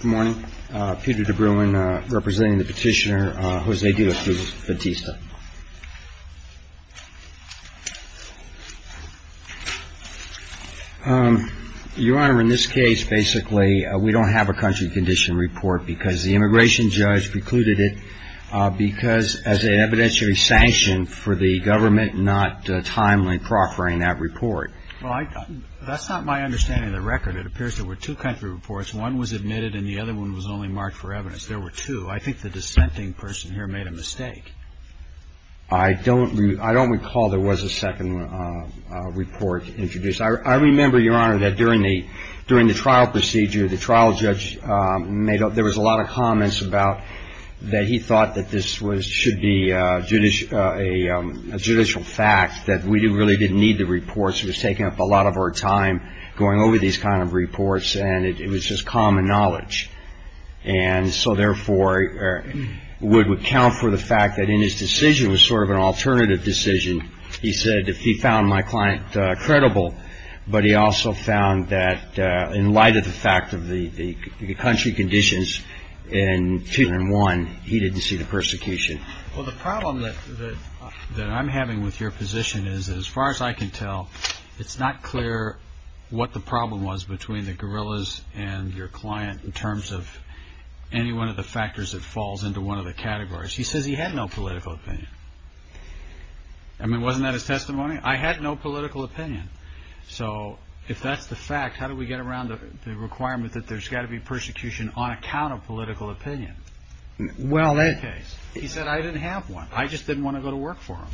Good morning, Peter DeBruin representing the petitioner Jose De La Cruz Bautista. Your Honor, in this case basically we don't have a country condition report because the immigration judge precluded it because as an evidentiary sanction for the government not timely proffering that report. Well, that's not my understanding of the record. It appears there were two country reports. One was admitted and the other one was only marked for evidence. There were two. I think the dissenting person here made a mistake. I don't recall there was a second report introduced. I remember, Your Honor, that during the trial procedure the trial judge made up there was a lot of comments about that he thought that this should be a judicial fact, that we really didn't need the reports. It was taking up a lot of our time going over these kind of reports and it was just common knowledge. And so, therefore, would account for the fact that in his decision was sort of an alternative decision. He said if he found my client credible, but he also found that in light of the fact of the country conditions in two and one, he didn't see the persecution. Well, the problem that I'm having with your position is, as far as I can tell, it's not clear what the problem was between the guerrillas and your client in terms of any one of the factors that falls into one of the categories. He says he had no political opinion. I mean, wasn't that his testimony? I had no political opinion. So, if that's the fact, how do we get around the requirement that there's got to be persecution on account of political opinion? He said, I didn't have one. I just didn't want to go to work for him.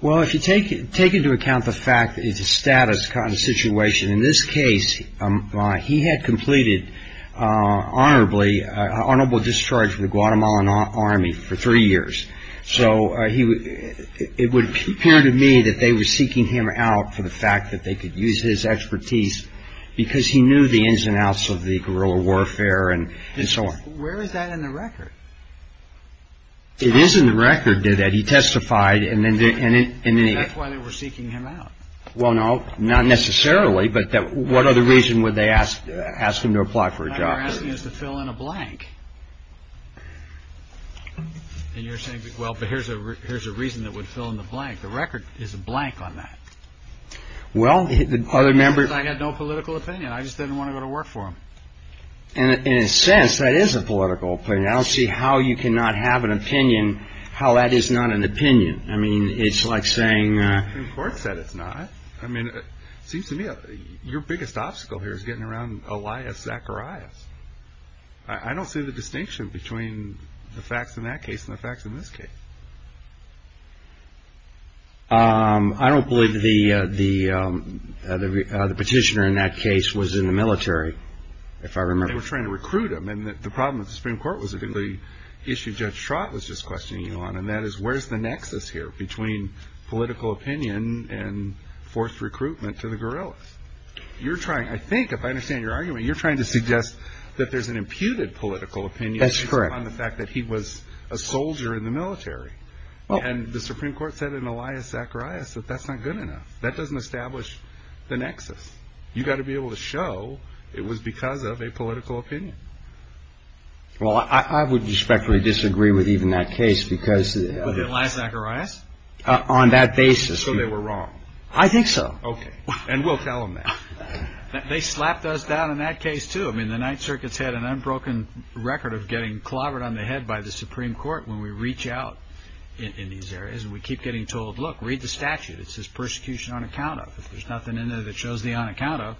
Well, if you take into account the fact that it's a status kind of situation, in this case, he had completed honorably honorable discharge from the Guatemalan Army for three years. So, it would appear to me that they were seeking him out for the fact that they could use his expertise because he knew the ins and outs of the guerrilla warfare and so on. Where is that in the record? It is in the record that he testified. And that's why they were seeking him out. Well, no, not necessarily. But what other reason would they ask him to apply for a job? They were asking us to fill in a blank. And you're saying, well, but here's a reason that would fill in the blank. The record is a blank on that. Well, the other member… He says I had no political opinion. I just didn't want to go to work for him. In a sense, that is a political opinion. I don't see how you cannot have an opinion, how that is not an opinion. I mean, it's like saying… The Supreme Court said it's not. I mean, it seems to me your biggest obstacle here is getting around Elias Zacharias. I don't see the distinction between the facts in that case and the facts in this case. I don't believe the petitioner in that case was in the military, if I remember. They were trying to recruit him. And the problem with the Supreme Court was the issue Judge Schraut was just questioning you on, and that is where's the nexus here between political opinion and forced recruitment to the guerrillas? You're trying, I think, if I understand your argument, you're trying to suggest that there's an imputed political opinion… That's correct. On the fact that he was a soldier in the military. And the Supreme Court said in Elias Zacharias that that's not good enough. That doesn't establish the nexus. You've got to be able to show it was because of a political opinion. Well, I would respectfully disagree with even that case because… With Elias Zacharias? On that basis… So they were wrong? I think so. Okay. And we'll tell them that. They slapped us down in that case, too. I mean, the Ninth Circuit's had an unbroken record of getting clobbered on the head by the Supreme Court when we reach out in these areas. And we keep getting told, look, read the statute. It says persecution on account of. If there's nothing in there that shows the on account of,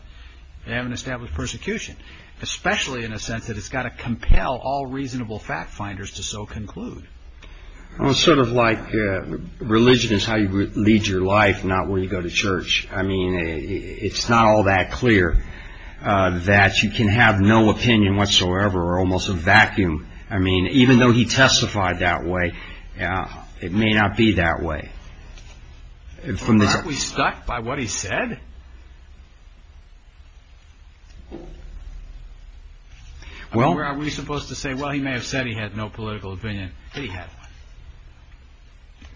they haven't established persecution. Especially in a sense that it's got to compel all reasonable fact-finders to so conclude. Well, it's sort of like religion is how you lead your life, not where you go to church. I mean, it's not all that clear that you can have no opinion whatsoever or almost a vacuum. I mean, even though he testified that way, it may not be that way. Aren't we stuck by what he said? Well… Or are we supposed to say, well, he may have said he had no political opinion, but he had one.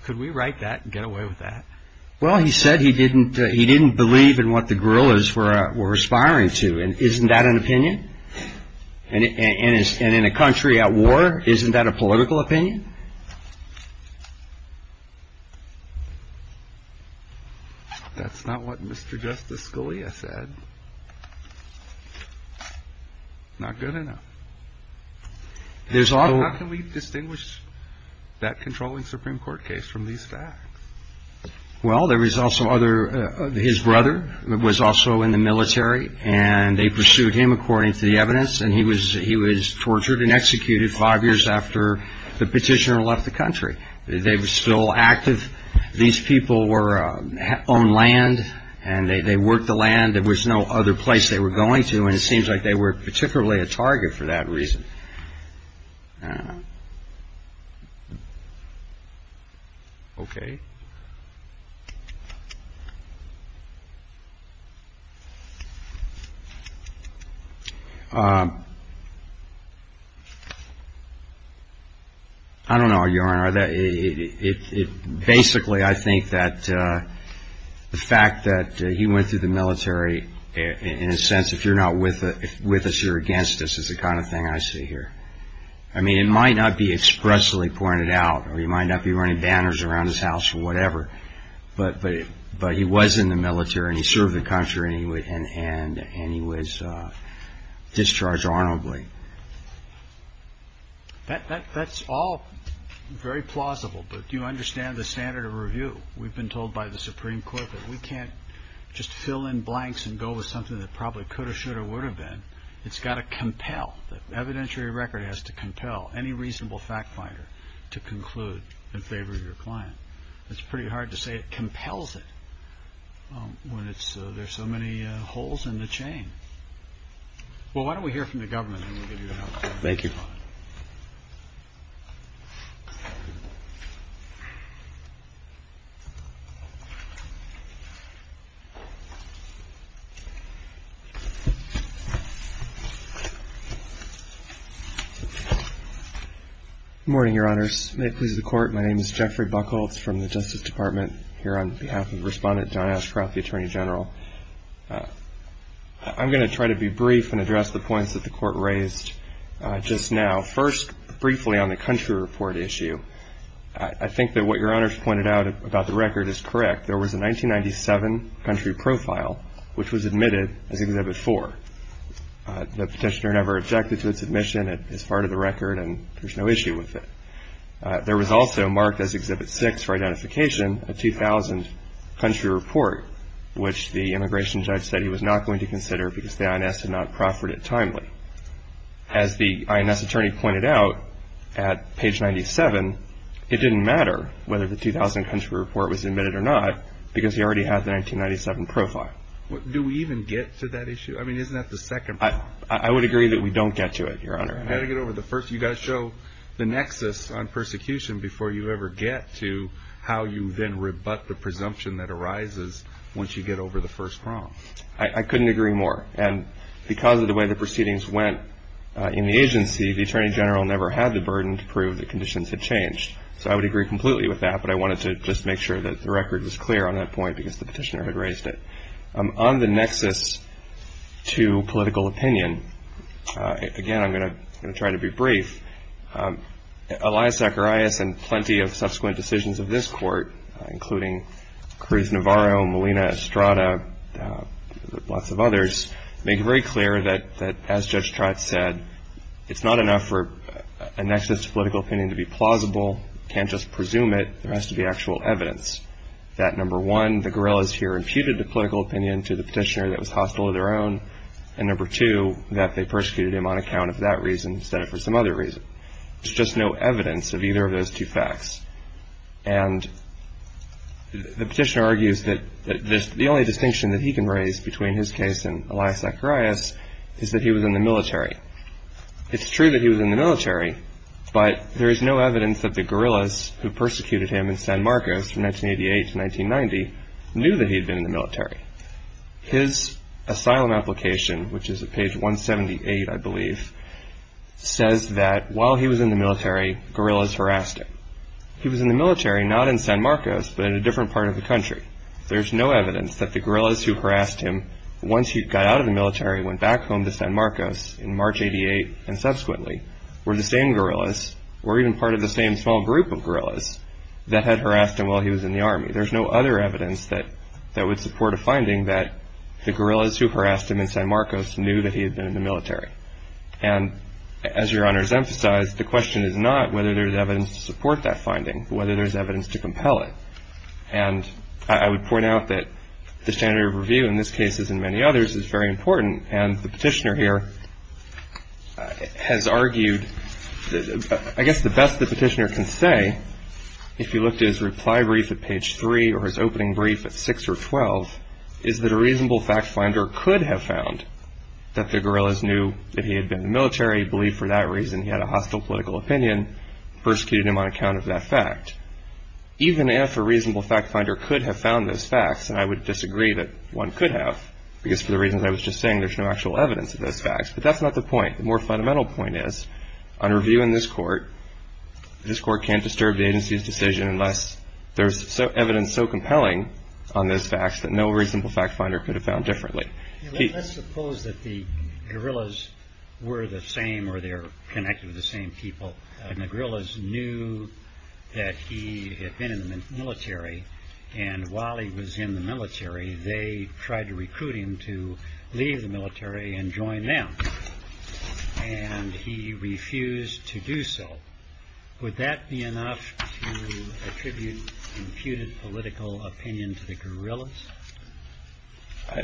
Could we write that and get away with that? Well, he said he didn't believe in what the guerrillas were aspiring to. Isn't that an opinion? And in a country at war, isn't that a political opinion? That's not what Mr. Justice Scalia said. Not good enough. How can we distinguish that controlling Supreme Court case from these facts? Well, there was also other… His brother was also in the military, and they pursued him according to the evidence, and he was tortured and executed five years after the petitioner left the country. They were still active. These people owned land, and they worked the land. There was no other place they were going to, and it seems like they were particularly a target for that reason. I don't know. Okay. I don't know, Your Honor. Basically, I think that the fact that he went through the military, in a sense, if you're not with us, you're against us, is the kind of thing I see here. I mean, it might not be expressly pointed out, or he might not be running banners around his house or whatever, but he was in the military, and he served the country, and he was discharged honorably. That's all very plausible, but do you understand the standard of review? We've been told by the Supreme Court that we can't just fill in blanks and go with something that probably could have, should have, or would have been. It's got to compel. The evidentiary record has to compel any reasonable fact finder to conclude in favor of your client. It's pretty hard to say it compels it when there's so many holes in the chain. Well, why don't we hear from the government, and we'll give you an update. Thank you. Good morning, Your Honors. May it please the Court, my name is Jeffrey Buckel. It's from the Justice Department here on behalf of Respondent John Ashcroft, the Attorney General. I'm going to try to be brief and address the points that the Court raised just now. First, briefly, on the country report issue, I think that what Your Honors pointed out about the record is correct. The petitioner never objected to its admission. It is part of the record, and there's no issue with it. There was also marked as Exhibit 6 for identification a 2000 country report, which the immigration judge said he was not going to consider because the INS had not proffered it timely. As the INS attorney pointed out at page 97, it didn't matter whether the 2000 country report was admitted or not because he already had the 1997 profile. Do we even get to that issue? I mean, isn't that the second problem? I would agree that we don't get to it, Your Honor. You've got to show the nexus on persecution before you ever get to how you then rebut the presumption that arises once you get over the first problem. I couldn't agree more. And because of the way the proceedings went in the agency, the Attorney General never had the burden to prove that conditions had changed. So I would agree completely with that, but I wanted to just make sure that the record was clear on that point because the petitioner had raised it. On the nexus to political opinion, again, I'm going to try to be brief. Elias Zacharias and plenty of subsequent decisions of this court, including Cruz Navarro, Molina Estrada, lots of others, make it very clear that, as Judge Trott said, it's not enough for a nexus to political opinion to be plausible. You can't just presume it. There has to be actual evidence that, number one, the guerrillas here imputed the political opinion to the petitioner that was hostile of their own, and, number two, that they persecuted him on account of that reason instead of for some other reason. There's just no evidence of either of those two facts. And the petitioner argues that the only distinction that he can raise between his case and Elias Zacharias is that he was in the military. It's true that he was in the military, but there is no evidence that the guerrillas who persecuted him in San Marcos from 1988 to 1990 knew that he had been in the military. His asylum application, which is at page 178, I believe, says that while he was in the military, guerrillas harassed him. He was in the military, not in San Marcos, but in a different part of the country. There's no evidence that the guerrillas who harassed him once he got out of the military and went back home to San Marcos in March 1988 and subsequently were the same guerrillas or even part of the same small group of guerrillas that had harassed him while he was in the army. There's no other evidence that would support a finding that the guerrillas who harassed him in San Marcos knew that he had been in the military. And as Your Honors emphasized, the question is not whether there's evidence to support that finding, but whether there's evidence to compel it. And I would point out that the standard of review in this case, as in many others, is very important. And the petitioner here has argued, I guess the best the petitioner can say, if you looked at his reply brief at page 3 or his opening brief at 6 or 12, is that a reasonable fact finder could have found that the guerrillas knew that he had been in the military, believed for that reason he had a hostile political opinion, persecuted him on account of that fact. Even if a reasonable fact finder could have found those facts, and I would disagree that one could have because for the reasons I was just saying, there's no actual evidence of those facts. But that's not the point. The more fundamental point is, on review in this court, this court can't disturb the agency's decision unless there's evidence so compelling on those facts that no reasonable fact finder could have found differently. Let's suppose that the guerrillas were the same or they're connected with the same people, and the guerrillas knew that he had been in the military, and while he was in the military, they tried to recruit him to leave the military and join them, and he refused to do so. Would that be enough to attribute imputed political opinion to the guerrillas?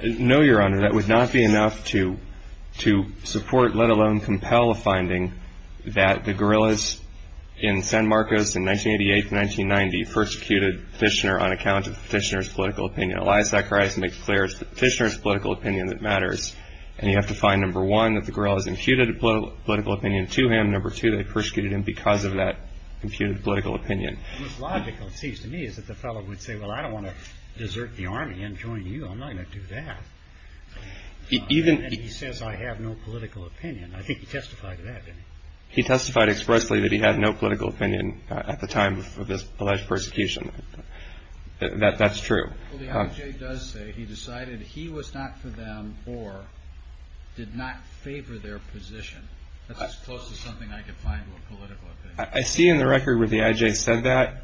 No, Your Honor. That would not be enough to support, let alone compel, a finding that the guerrillas in San Marcos in 1988 to 1990 persecuted Fishner on account of Fishner's political opinion. Elias Zacharias makes clear it's Fishner's political opinion that matters, and you have to find, number one, that the guerrillas imputed political opinion to him. Number two, they persecuted him because of that imputed political opinion. What's logical, it seems to me, is that the fellow would say, well, I don't want to desert the Army and join you. I'm not going to do that. And then he says, I have no political opinion. I think he testified to that, didn't he? He testified expressly that he had no political opinion at the time of this alleged persecution. That's true. Well, the IJ does say he decided he was not for them or did not favor their position. That's as close to something I could find with political opinion. I see in the record where the IJ said that.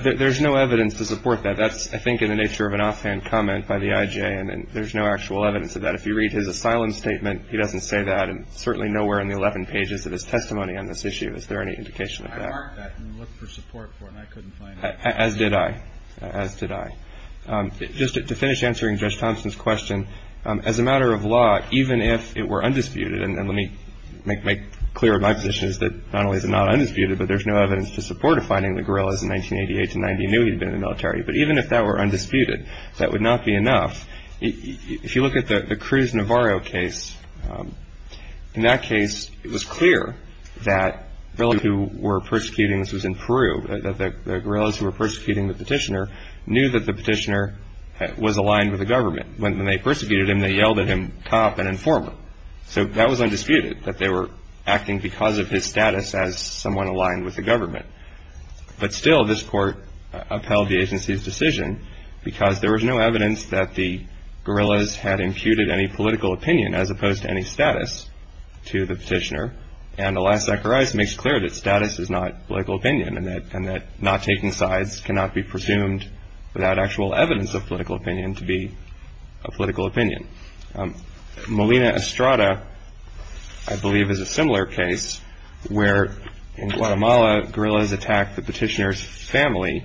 There's no evidence to support that. That's, I think, in the nature of an offhand comment by the IJ, and there's no actual evidence of that. If you read his asylum statement, he doesn't say that, and certainly nowhere in the 11 pages of his testimony on this issue is there any indication of that. I marked that and looked for support for it, and I couldn't find it. As did I. As did I. Just to finish answering Judge Thompson's question, as a matter of law, even if it were undisputed, and let me make clear my position is that not only is it not undisputed, but there's no evidence to support a finding of the guerrillas in 1988 to 1990 knew he'd been in the military. But even if that were undisputed, that would not be enough. If you look at the Cruz Navarro case, in that case, it was clear that those who were persecuting, this was in Peru, that the guerrillas who were persecuting the petitioner knew that the petitioner was aligned with the government. When they persecuted him, they yelled at him, top and informer. So that was undisputed, that they were acting because of his status as someone aligned with the government. But still, this court upheld the agency's decision because there was no evidence that the guerrillas had imputed any political opinion, as opposed to any status, to the petitioner. And alas, Zacharias makes clear that status is not political opinion, and that not taking sides cannot be presumed without actual evidence of political opinion to be a political opinion. Molina Estrada, I believe, is a similar case, where in Guatemala, guerrillas attacked the petitioner's family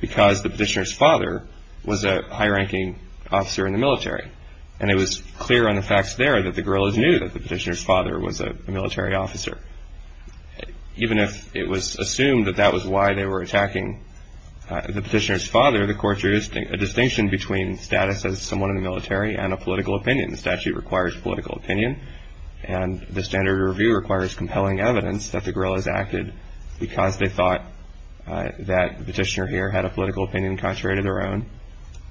because the petitioner's father was a high-ranking officer in the military. And it was clear on the facts there that the guerrillas knew that the petitioner's father was a military officer. Even if it was assumed that that was why they were attacking the petitioner's father, the court drew a distinction between status as someone in the military and a political opinion. The statute requires political opinion, and the standard review requires compelling evidence that the guerrillas acted because they thought that the petitioner here had a political opinion contrary to their own.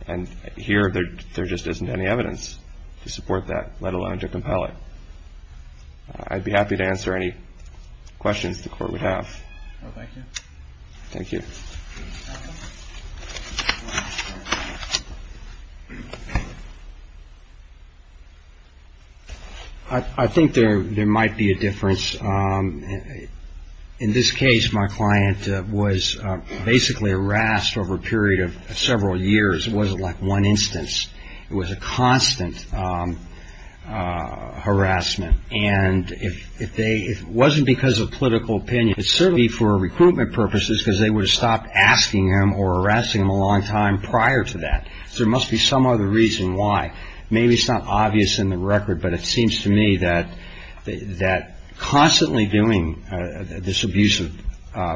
And here, there just isn't any evidence to support that, let alone to compel it. I'd be happy to answer any questions the court would have. Thank you. I think there might be a difference. In this case, my client was basically harassed over a period of several years. It wasn't like one instance. It was a constant harassment. And it wasn't because of political opinion. It's certainly for recruitment purposes, because they would have stopped asking him or harassing him a long time prior to that. So there must be some other reason why. Maybe it's not obvious in the record, but it seems to me that constantly doing this abusive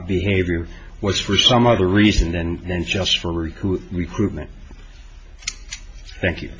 behavior was for some other reason than just for recruitment. Thank you.